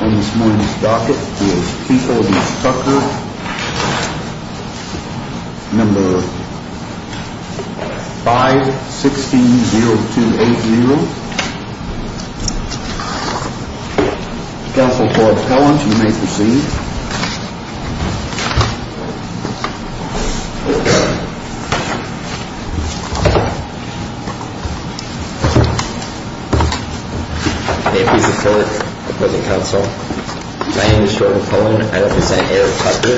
On this morning's docket is People v. Tucker, number 516-0280. Counsel Floyd Collins, you may proceed. Thank you. May it please the court, the present counsel. My name is Jordan Cohen. I represent Eric Tucker.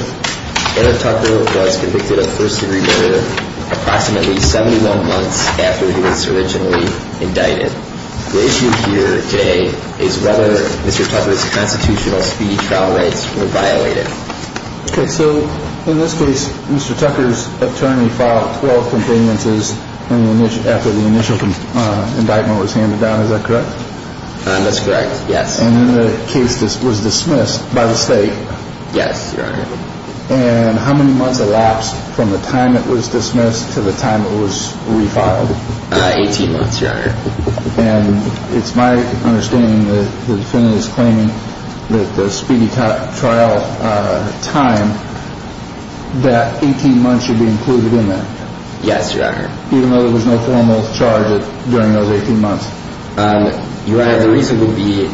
Eric Tucker was convicted of first-degree murder approximately 71 months after he was originally indicted. The issue here today is whether Mr. Tucker's constitutional speedy trial rights were violated. Okay, so in this case, Mr. Tucker's attorney filed 12 complainances after the initial indictment was handed down. Is that correct? That's correct, yes. And then the case was dismissed by the state. Yes, Your Honor. And how many months elapsed from the time it was dismissed to the time it was refiled? 18 months, Your Honor. And it's my understanding that the defendant is claiming that the speedy trial time, that 18 months should be included in that. Yes, Your Honor. Even though there was no formal charge during those 18 months. Your Honor, the reason would be,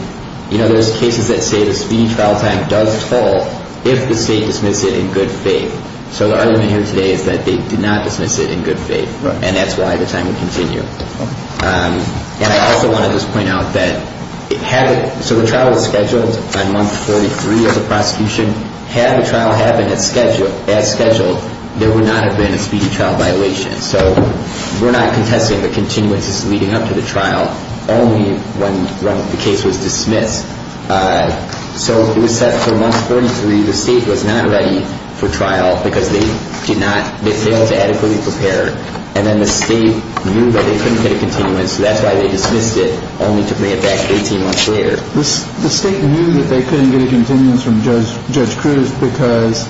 you know, there's cases that say the speedy trial time does fall if the state dismisses it in good faith. So the argument here today is that they did not dismiss it in good faith. Right. And that's why the time would continue. Okay. And I also want to just point out that, so the trial was scheduled by month 43 of the prosecution. Had the trial happened as scheduled, there would not have been a speedy trial violation. So we're not contesting the continuances leading up to the trial, only when the case was dismissed. So it was set for month 43. The state was not ready for trial because they did not, they failed to adequately prepare. And then the state knew that they couldn't get a continuance. So that's why they dismissed it, only to bring it back 18 months later. The state knew that they couldn't get a continuance from Judge Cruz because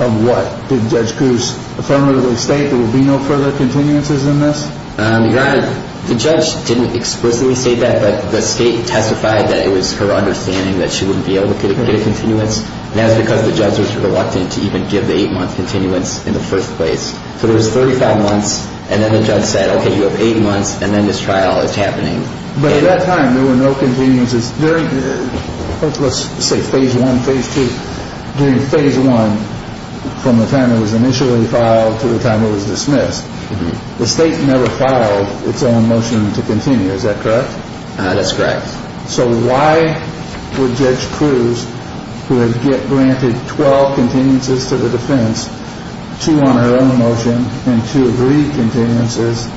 of what? Did Judge Cruz affirmatively state there would be no further continuances in this? Your Honor, the judge didn't explicitly state that, but the state testified that it was her understanding that she wouldn't be able to get a continuance. And that was because the judge was reluctant to even give the eight-month continuance in the first place. So there was 35 months, and then the judge said, okay, you have eight months, and then this trial is happening. But at that time, there were no continuances during, let's say, phase one, phase two. During phase one, from the time it was initially filed to the time it was dismissed, the state never filed its own motion to continue. Is that correct? That's correct. So why would Judge Cruz, who had granted 12 continuances to the defense, two on her own motion and two agreed continuances,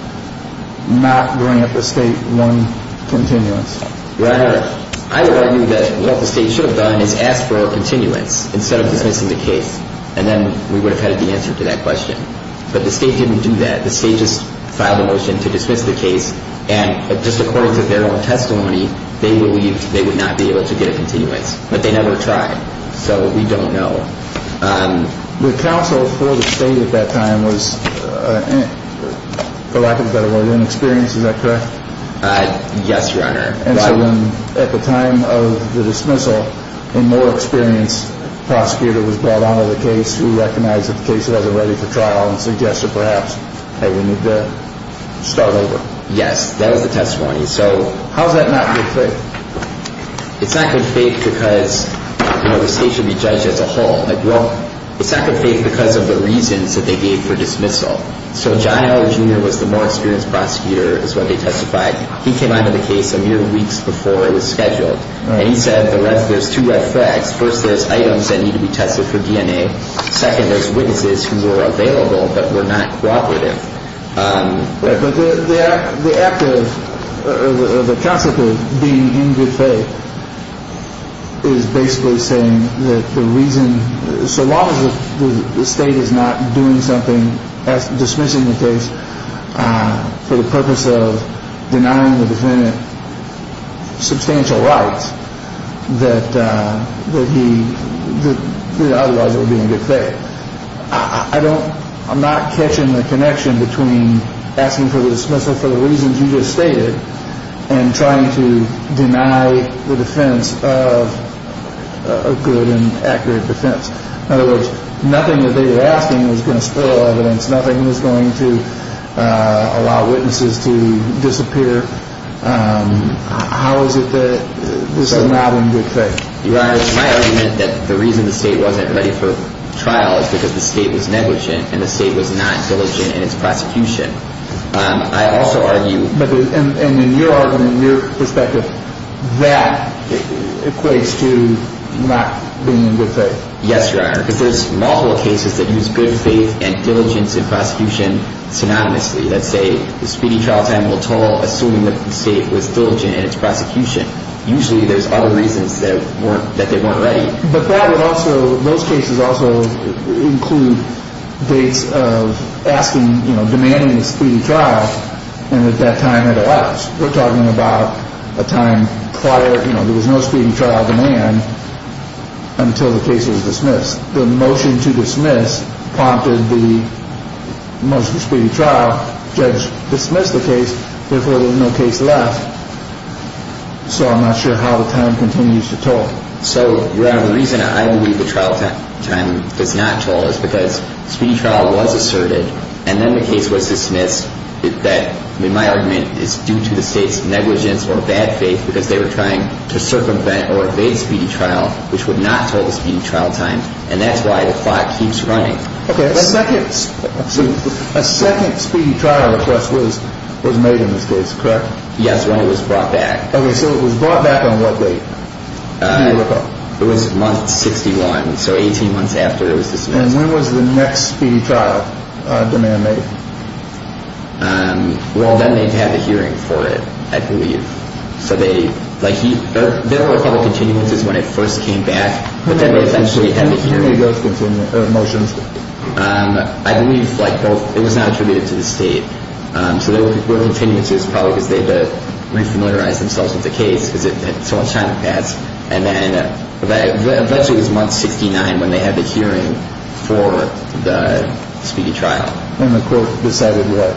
not grant the state one continuance? Your Honor, I would argue that what the state should have done is asked for a continuance instead of dismissing the case. And then we would have had the answer to that question. But the state didn't do that. The state just filed a motion to dismiss the case, and just according to their own testimony, they believed they would not be able to get a continuance. But they never tried, so we don't know. The counsel for the state at that time was, for lack of a better word, Lynn Experience. Is that correct? Yes, Your Honor. And so when, at the time of the dismissal, a more experienced prosecutor was brought onto the case who recognized that the case wasn't ready for trial and suggested perhaps that we need to start over. Yes, that was the testimony. So how is that not good faith? It's not good faith because, you know, the state should be judged as a whole. Like, well, it's not good faith because of the reasons that they gave for dismissal. So John L. Jr. was the more experienced prosecutor is what they testified. He came onto the case a mere weeks before it was scheduled, and he said there's two red flags. First, there's items that need to be tested for DNA. Second, there's witnesses who were available but were not cooperative. But the act of, the concept of being in good faith is basically saying that the reason, so long as the state is not doing something, dismissing the case for the purpose of denying the defendant substantial rights, that he, otherwise it would be in good faith. I don't, I'm not catching the connection between asking for the dismissal for the reasons you just stated and trying to deny the defense of a good and accurate defense. In other words, nothing that they were asking was going to spoil evidence. Nothing was going to allow witnesses to disappear. How is it that this is not in good faith? Your Honor, my argument that the reason the state wasn't ready for trial is because the state was negligent and the state was not diligent in its prosecution. I also argue... And in your argument, in your perspective, that equates to not being in good faith. Yes, Your Honor. Because there's multiple cases that use good faith and diligence in prosecution synonymously. Let's say the speedy trial time will toll assuming that the state was diligent in its prosecution. Usually there's other reasons that they weren't ready. But that would also, those cases also include dates of asking, you know, demanding a speedy trial. And at that time it allows. We're talking about a time prior, you know, there was no speedy trial demand until the case was dismissed. The motion to dismiss prompted the motion to speedy trial. Judge dismissed the case. Therefore, there was no case left. So I'm not sure how the time continues to toll. So, Your Honor, the reason I believe the trial time does not toll is because speedy trial was asserted and then the case was dismissed that, in my argument, is due to the state's negligence or bad faith because they were trying to circumvent or evade speedy trial, which would not toll the speedy trial time. And that's why the clock keeps running. Okay. A second speedy trial request was made in this case, correct? Yes. When it was brought back. Okay. So it was brought back on what date? It was month 61. So 18 months after it was dismissed. And when was the next speedy trial demand made? Well, then they'd have the hearing for it, I believe. So they, like, there were a couple of continuances when it first came back. But then they eventually had the hearing. When was the hearing of those motions? I believe, like, it was not attributed to the state. So there were continuances probably because they had to re-familiarize themselves with the case because it took so much time to pass. And then eventually it was month 69 when they had the hearing for the speedy trial. And the court decided what?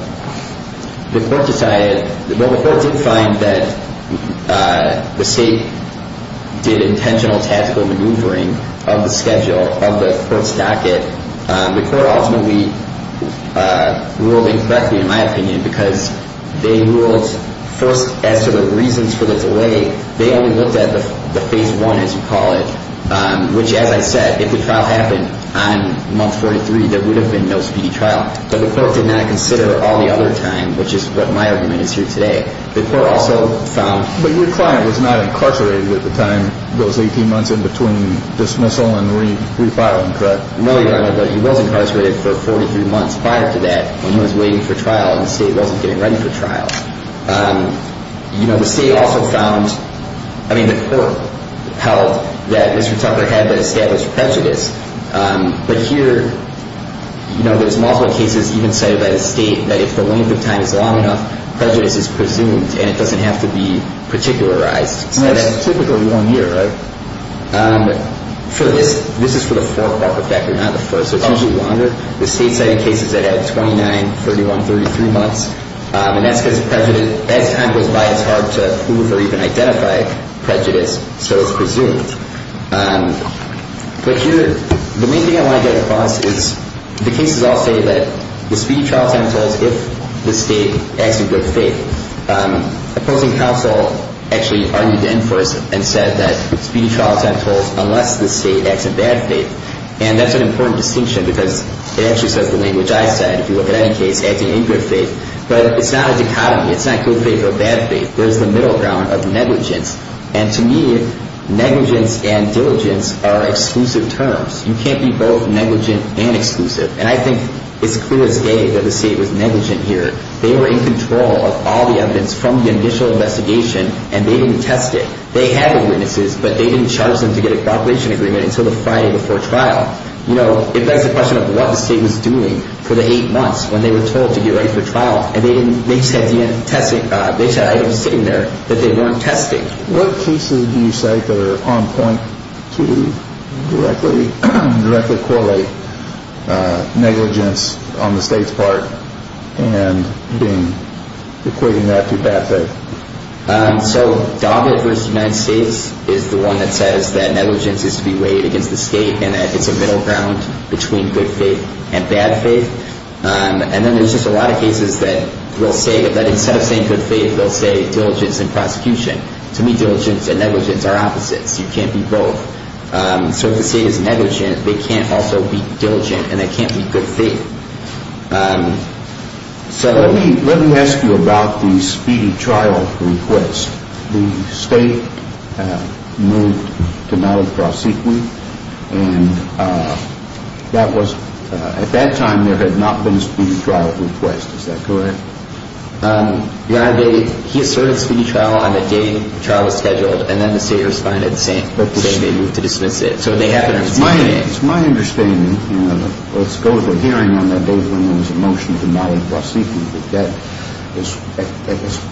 The court decided, well, the court did find that the state did intentional tactical maneuvering of the schedule, of the court's docket. The court ultimately ruled incorrectly, in my opinion, because they ruled first as to the reasons for the delay. They only looked at the phase one, as you call it, which, as I said, if the trial happened on month 43, there would have been no speedy trial. But the court did not consider all the other time, which is what my argument is here today. The court also found. But your client was not incarcerated at the time, those 18 months in between dismissal and refiling, correct? No, Your Honor, but he was incarcerated for 43 months prior to that when he was waiting for trial and the state wasn't getting ready for trial. You know, the state also found, I mean, the court held that Mr. Tucker had established prejudice. But here, you know, there's multiple cases even cited by the state that if the length of time is long enough, prejudice is presumed and it doesn't have to be particularized. That's typically one year, right? For this, this is for the fourth part of Decker, not the first. It's usually longer. The state cited cases that had 29, 31, 33 months. And that's because prejudice, as time goes by, it's hard to prove or even identify prejudice, so it's presumed. But here, the main thing I want to get across is the cases all say that the speedy trial time tolls if the state acts in good faith. Opposing counsel actually argued in force and said that speedy trial time tolls unless the state acts in bad faith. And that's an important distinction because it actually says the language I said, if you look at any case, acting in good faith. But it's not a dichotomy. It's not good faith or bad faith. There's the middle ground of negligence. And to me, negligence and diligence are exclusive terms. You can't be both negligent and exclusive. And I think it's clear as day that the state was negligent here. They were in control of all the evidence from the initial investigation, and they didn't test it. They had the witnesses, but they didn't charge them to get a cooperation agreement until the Friday before trial. You know, if that's a question of what the state was doing for the eight months when they were told to get ready for trial, and they just had the testing, they just had items sitting there that they weren't testing. What cases do you cite that are on point to directly correlate negligence on the state's part and equating that to bad faith? So DABA v. United States is the one that says that negligence is to be weighed against the state and that it's a middle ground between good faith and bad faith. And then there's just a lot of cases that will say that instead of saying good faith, they'll say diligence and prosecution. To me, diligence and negligence are opposites. You can't be both. So if the state is negligent, they can't also be diligent, and they can't be good faith. So let me ask you about the speedy trial request. The state moved to Malibu prosecution. And that was at that time there had not been a speedy trial request. Is that correct? He asserted speedy trial on the day the trial was scheduled, and then the state responded the same day they moved to dismiss it. So they have to reschedule it. It's my understanding, and let's go to the hearing on that day when there was a motion to Malibu prosecution, that was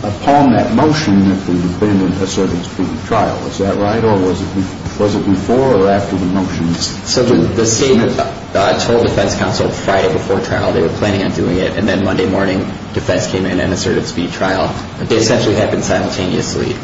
upon that motion that the defendant asserted speedy trial. Was that right, or was it before or after the motion? So the state told defense counsel Friday before trial they were planning on doing it, and then Monday morning defense came in and asserted speedy trial. They essentially happened simultaneously.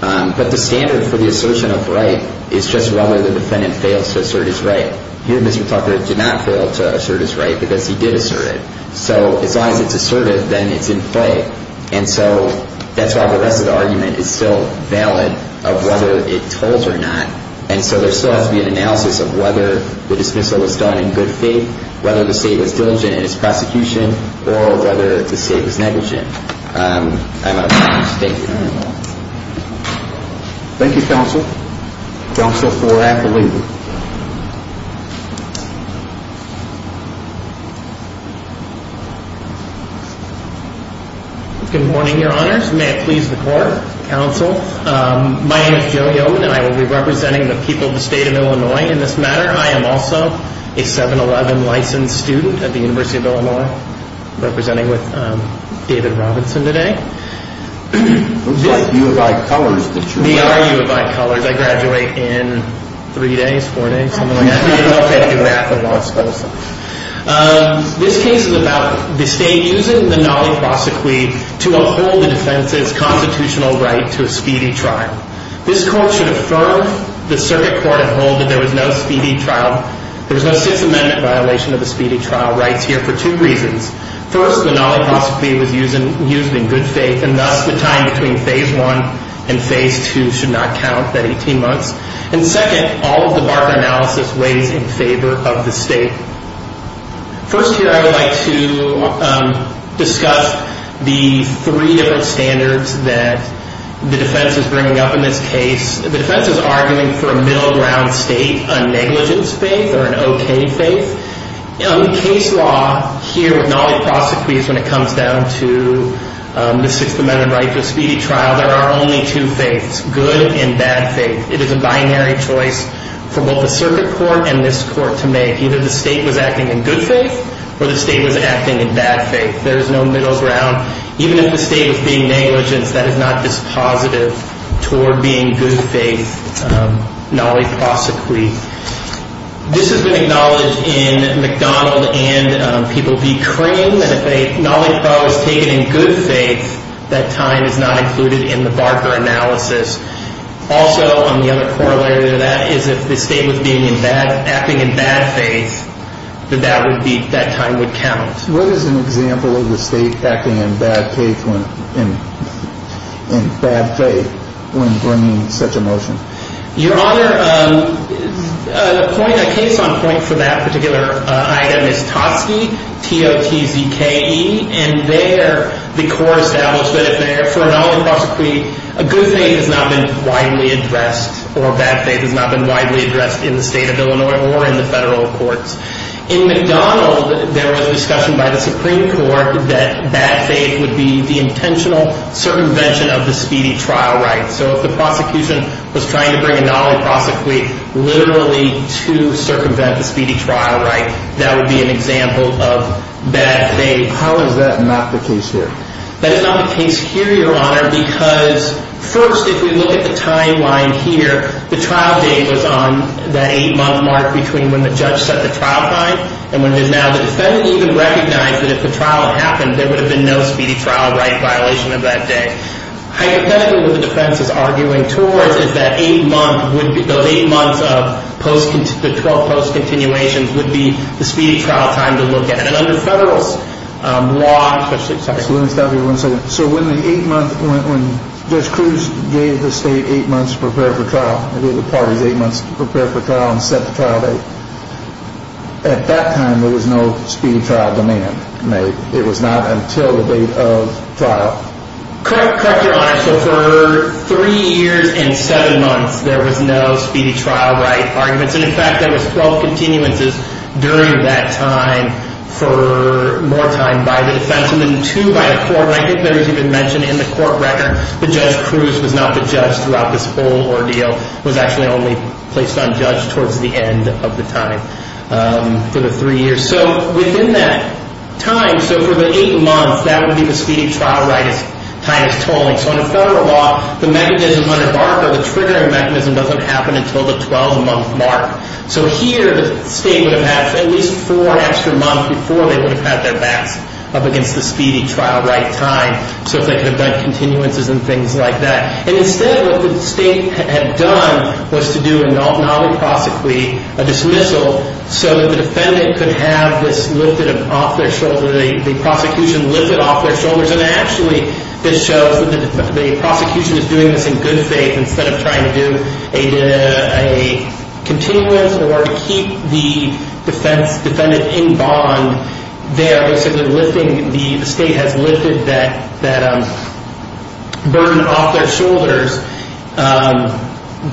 But the standard for the assertion of right is just whether the defendant fails to assert his right. Here, Mr. Tucker did not fail to assert his right because he did assert it. So as long as it's asserted, then it's in play. And so that's why the rest of the argument is still valid of whether it told or not. And so there still has to be an analysis of whether the dismissal was done in good faith, whether the state was diligent in its prosecution, or whether the state was negligent. I'm out of time. Thank you. Thank you, counsel. Counsel for Appalooza. Good morning, your honors. May it please the court, counsel. My name is Joe Yeoman, and I will be representing the people of the state of Illinois in this matter. I am also a 7-11 licensed student at the University of Illinois, representing with David Robinson today. Looks like U of I Colors. We are U of I Colors. I graduate in three days, four days, something like that. Okay. Okay. You're at the law school. This case is about the state using the Nolley Prosecuit to uphold the defense's constitutional right to a speedy trial. This court should affirm the circuit court uphold that there was no speedy trial. There was no Sixth Amendment violation of the speedy trial rights here for two reasons. First, the Nolley Prosecute was used in good faith, and thus the time between Phase 1 and Phase 2 should not count, that 18 months. And second, all of the Barker analysis weighs in favor of the state. First here, I would like to discuss the three different standards that the defense is bringing up in this case. The defense is arguing for a middle ground state, a negligence faith or an okay faith. The case law here with Nolley Prosecute is when it comes down to the Sixth Amendment right to a speedy trial, there are only two faiths, good and bad faith. It is a binary choice for both the circuit court and this court to make. Either the state was acting in good faith or the state was acting in bad faith. There is no middle ground. Even if the state was being negligent, that is not dispositive toward being good faith, Nolley Prosecute. This has been acknowledged in McDonald and People v. Cream. And if a Nolley Prose was taken in good faith, that time is not included in the Barker analysis. Also, the other corollary to that is if the state was acting in bad faith, then that time would count. What is an example of the state acting in bad faith when bringing such a motion? Your Honor, a case on point for that particular item is Totske, T-O-T-Z-K-E. And there, the core establishment is there for a Nolley Prosecute, a good faith has not been widely addressed, or a bad faith has not been widely addressed in the state of Illinois or in the federal courts. In McDonald, there was a discussion by the Supreme Court that bad faith would be the intentional circumvention of the speedy trial right. So if the prosecution was trying to bring a Nolley Prosecute literally to circumvent the speedy trial right, that would be an example of bad faith. How is that not the case here? That is not the case here, Your Honor, because first, if we look at the timeline here, the trial date was on that eight-month mark between when the judge set the trial time, and when there's now the defendant even recognized that if the trial had happened, there would have been no speedy trial right violation of that date. I think what the defense is arguing towards is that those eight months of the 12 post-continuations would be the speedy trial time to look at. And under the federal law... Let me stop you for one second. So when Judge Cruz gave the state eight months to prepare for trial, and gave the parties eight months to prepare for trial and set the trial date, at that time there was no speedy trial demand made. It was not until the date of trial. Correct, Your Honor. So for three years and seven months, there was no speedy trial right arguments. And, in fact, there was 12 continuances during that time for more time by the defense and then two by the court, and I think there was even mention in the court record that Judge Cruz was not the judge throughout this whole ordeal, was actually only placed on judge towards the end of the time for the three years. So within that time, so for the eight months, that would be the speedy trial right's highest tolling. So under federal law, the mechanism under BARCA, the triggering mechanism, doesn't happen until the 12-month mark. So here, the state would have had at least four extra months before they would have had their backs up against the speedy trial right time, so that they could have done continuances and things like that. And instead, what the state had done was to do an omniprosecuity, a dismissal, so that the defendant could have this lifted off their shoulders, the prosecution lift it off their shoulders. And actually, this shows that the prosecution is doing this in good faith, instead of trying to do a continuance or to keep the defendant in bond. They are basically lifting, the state has lifted that burden off their shoulders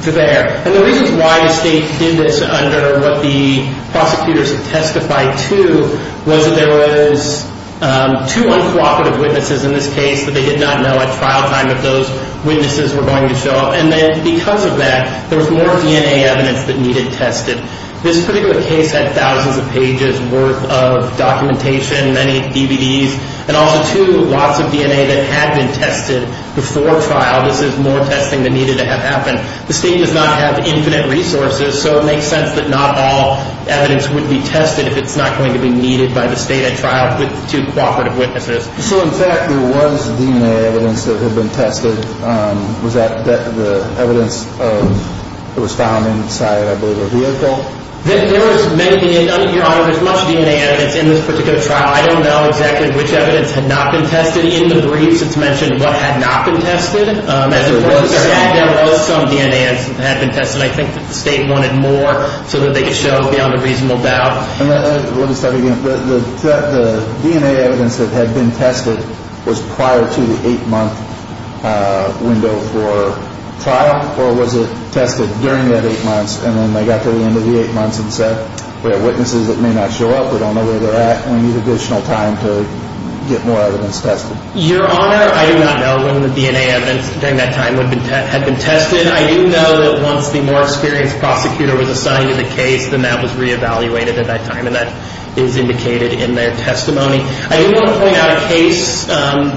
there. And the reasons why the state did this under what the prosecutors have testified to, was that there was two uncooperative witnesses in this case that they did not know at trial time if those witnesses were going to show up. And then because of that, there was more DNA evidence that needed tested. This particular case had thousands of pages worth of documentation, many DVDs, and also two lots of DNA that had been tested before trial. This is more testing that needed to have happened. The state does not have infinite resources, so it makes sense that not all evidence would be tested if it's not going to be needed by the state at trial with two cooperative witnesses. So, in fact, there was DNA evidence that had been tested. Was that the evidence that was found inside, I believe, a vehicle? There was many, Your Honor, there was much DNA evidence in this particular trial. I don't know exactly which evidence had not been tested. In the briefs, it's mentioned what had not been tested. As a prosecutor, there was some DNA that had been tested. I think that the state wanted more so that they could show beyond a reasonable doubt. Let me start again. The DNA evidence that had been tested was prior to the eight-month window for trial, or was it tested during that eight months and then they got to the end of the eight months and said, we have witnesses that may not show up, we don't know where they're at, and we need additional time to get more evidence tested? Your Honor, I do not know when the DNA evidence during that time had been tested. I do know that once the more experienced prosecutor was assigned to the case, then that was reevaluated at that time, and that is indicated in their testimony. I do want to point out a case,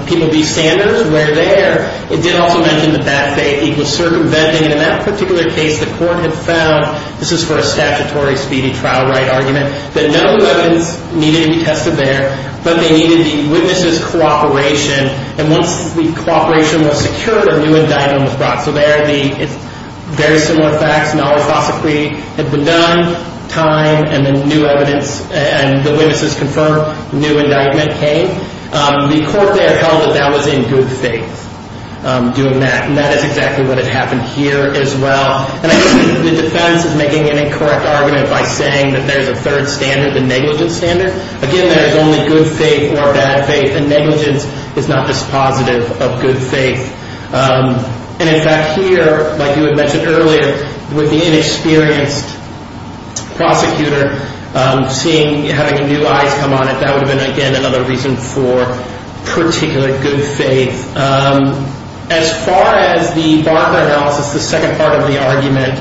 People v. Sanders, where there, it did also mention that that state was circumventing, and in that particular case the court had found, this is for a statutory speedy trial right argument, that no new evidence needed to be tested there, but they needed the witnesses' cooperation, and once the cooperation was secured, a new indictment was brought. So there are the very similar facts. An all-cause decree had been done, time, and then new evidence, and the witnesses confirmed a new indictment came. The court there held that that was in good faith, doing that, and that is exactly what had happened here as well. And I think the defense is making an incorrect argument by saying that there is a third standard, the negligence standard. Again, there is only good faith or bad faith, and negligence is not dispositive of good faith. And in fact here, like you had mentioned earlier, with the inexperienced prosecutor seeing, having new eyes come on it, that would have been, again, another reason for particular good faith. As far as the Barker analysis, the second part of the argument,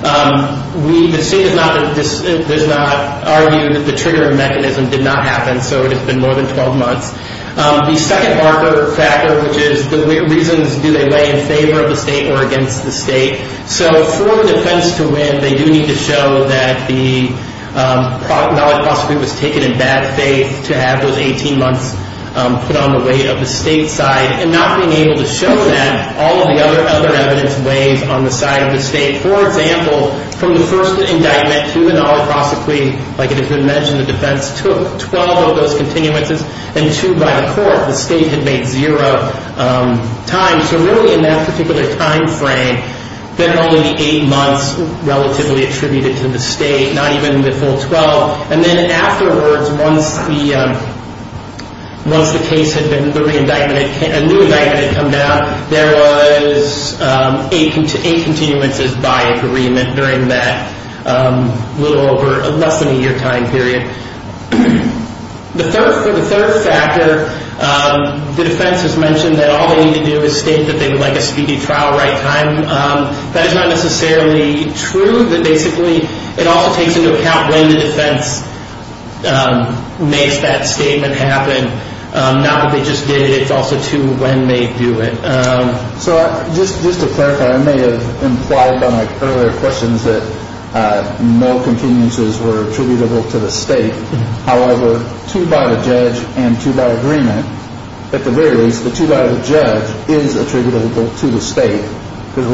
the state has not argued that the triggering mechanism did not happen, so it has been more than 12 months. The second Barker factor, which is the reasons, do they lay in favor of the state or against the state? So for the defense to win, they do need to show that the knowledge of the all-cause decree was taken in bad faith to have those 18 months put on the weight of the state side, and not being able to show that all of the other evidence weighs on the side of the state. For example, from the first indictment to the knowledge of the decree, like it has been mentioned, the defense took 12 of those continuances and two by the court. The state had made zero time. So really in that particular time frame, there are only eight months relatively attributed to the state, not even the full 12. And then afterwards, once the case had been re-indicted, a new indictment had come down, there was eight continuances by agreement during that little over less than a year time period. For the third factor, the defense has mentioned that all they need to do is state that they would like a speedy trial right time. That is not necessarily true, but basically it all takes into account when the defense makes that statement happen, not that they just did it, it's also to when they do it. So just to clarify, I may have implied by my earlier questions that no continuances were attributable to the state. However, two by the judge and two by agreement, at the very least, the two by the judge is attributable to the state because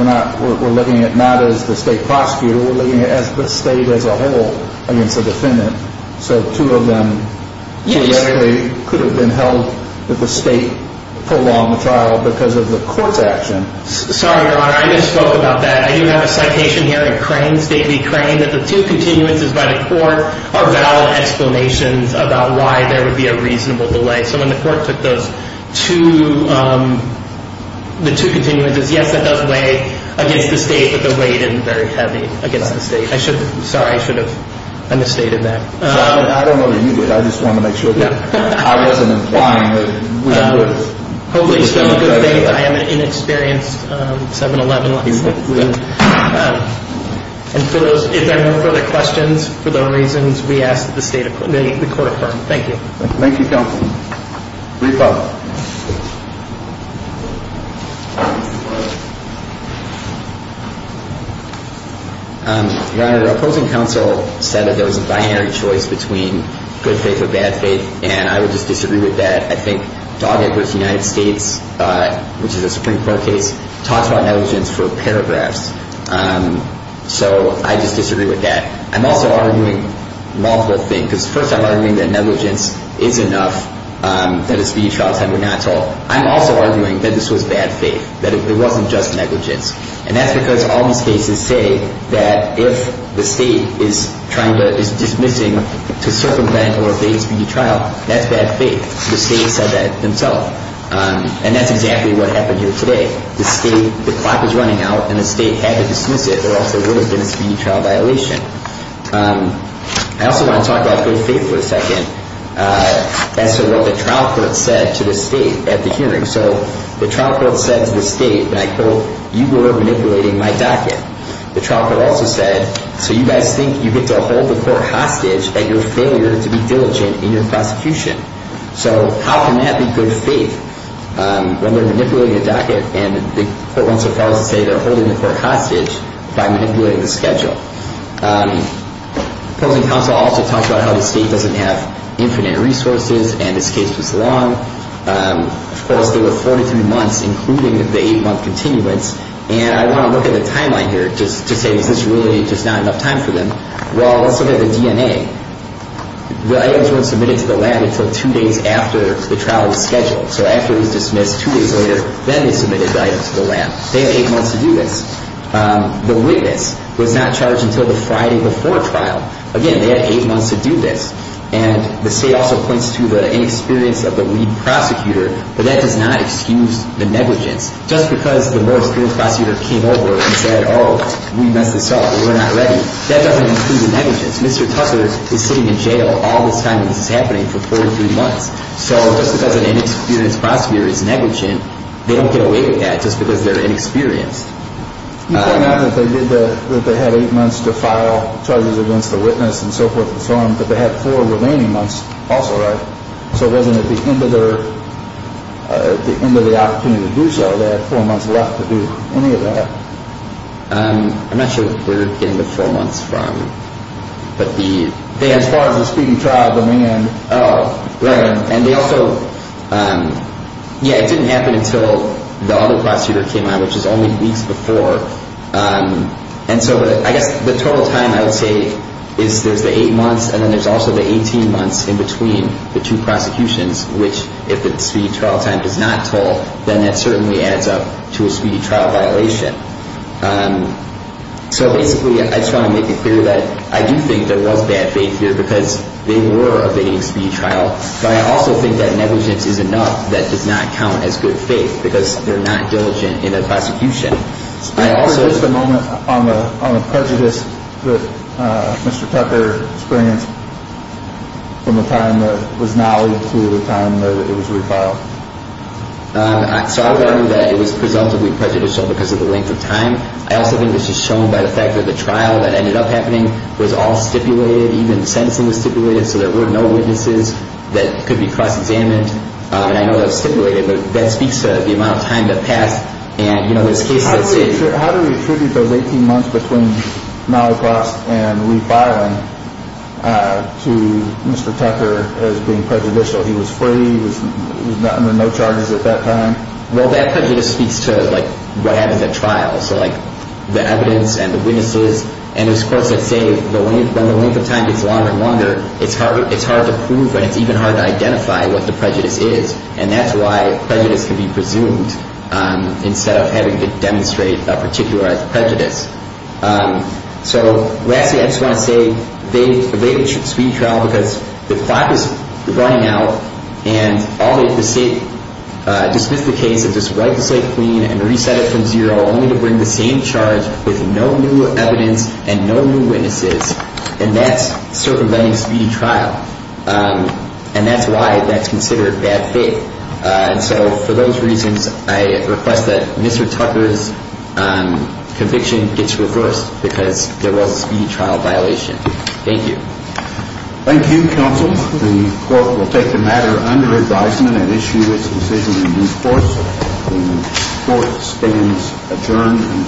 we're looking at not as the state prosecutor, we're looking at the state as a whole against the defendant. So two of them could have been held that the state prolonged the trial because of the court's action. Sorry, Your Honor, I misspoke about that. I do have a citation here in Crane, stately Crane, that the two continuances by the court are valid explanations about why there would be a reasonable delay. So when the court took those two, the two continuances, yes, that does weigh against the state, but the weight isn't very heavy against the state. I should have, sorry, I should have understated that. I don't know that you did. I just wanted to make sure that I wasn't implying that we were. Hopefully you still have a good date. I am an inexperienced 7-11 license. And for those, if there are no further questions, for those reasons, we ask that the state, the court affirm. Thank you. Thank you, Counsel. Brief up. Your Honor, the opposing counsel said that there was a binary choice between good faith or bad faith, and I would just disagree with that. I think Doggett v. United States, which is a Supreme Court case, talks about negligence for paragraphs. So I just disagree with that. I'm also arguing multiple things. Because first I'm arguing that negligence is enough, that a speedy trial is 100 knots. I'm also arguing that this was bad faith, that it wasn't just negligence. And that's because all these cases say that if the state is trying to, is dismissing to circumvent or evade a speedy trial, that's bad faith. The state said that themselves. And that's exactly what happened here today. The state, the clock is running out, and the state had to dismiss it, or else there would have been a speedy trial violation. I also want to talk about good faith for a second as to what the trial court said to the state at the hearing. So the trial court said to the state, and I quote, you go over manipulating my docket. The trial court also said, so you guys think you get to hold the court hostage at your failure to be diligent in your prosecution. So how can that be good faith when they're manipulating the docket and the court went so far as to say they're holding the court hostage by manipulating the schedule. The opposing counsel also talked about how the state doesn't have infinite resources, and this case was long. Of course, there were 43 months, including the eight-month continuance. And I want to look at the timeline here to say, is this really just not enough time for them? Well, let's look at the DNA. The items weren't submitted to the lab until two days after the trial was scheduled. So after it was dismissed two days later, then they submitted the items to the lab. They had eight months to do this. The witness was not charged until the Friday before trial. Again, they had eight months to do this. And the state also points to the inexperience of the lead prosecutor, but that does not excuse the negligence. Just because the more experienced prosecutor came over and said, oh, we messed this up, we're not ready, that doesn't include the negligence. Mr. Tucker is sitting in jail all this time that this is happening for 43 months. So just because an inexperienced prosecutor is negligent, they don't get away with that just because they're inexperienced. You point out that they had eight months to file charges against the witness and so forth and so on, but they had four remaining months also, right? So wasn't at the end of the opportunity to do so, they had four months left to do any of that? I'm not sure what they're getting the four months from. As far as the speedy trial going in, oh, right. And they also, yeah, it didn't happen until the other prosecutor came on, which is only weeks before. And so I guess the total time I would say is there's the eight months, and then there's also the 18 months in between the two prosecutions, which if the speedy trial time is not told, then that certainly adds up to a speedy trial violation. So basically, I just want to make it clear that I do think there was bad faith here because they were evading speedy trial. But I also think that negligence is enough. That does not count as good faith because they're not diligent in the prosecution. I also. Just a moment on the prejudice that Mr. Tucker experienced from the time that was nollie to the time that it was refiled. So I learned that it was presumptively prejudicial because of the length of time. I also think this is shown by the fact that the trial that ended up happening was all stipulated, even the sentencing was stipulated, so there were no witnesses that could be cross-examined. And I know that was stipulated, but that speaks to the amount of time that passed. And, you know, there's cases that say. How do we attribute those 18 months between nollie cross and refiling to Mr. Tucker as being prejudicial? He was free. He was under no charges at that time. Well, that prejudice speaks to what happens at trial. So, like, the evidence and the witnesses. And, of course, I'd say when the length of time gets longer and longer, it's hard to prove. And it's even hard to identify what the prejudice is. And that's why prejudice can be presumed instead of having to demonstrate a particularized prejudice. So, lastly, I just want to say evade a speedy trial because the clock is running out. And all they have to say, dismiss the case and just wipe the slate clean and reset it from zero, only to bring the same charge with no new evidence and no new witnesses. And that's circumventing speedy trial. And that's why that's considered bad faith. So, for those reasons, I request that Mr. Tucker's conviction gets reversed because there was a speedy trial violation. Thank you. Thank you, counsel. The court will take the matter under advisement and issue its decision in due course. The court stands adjourned.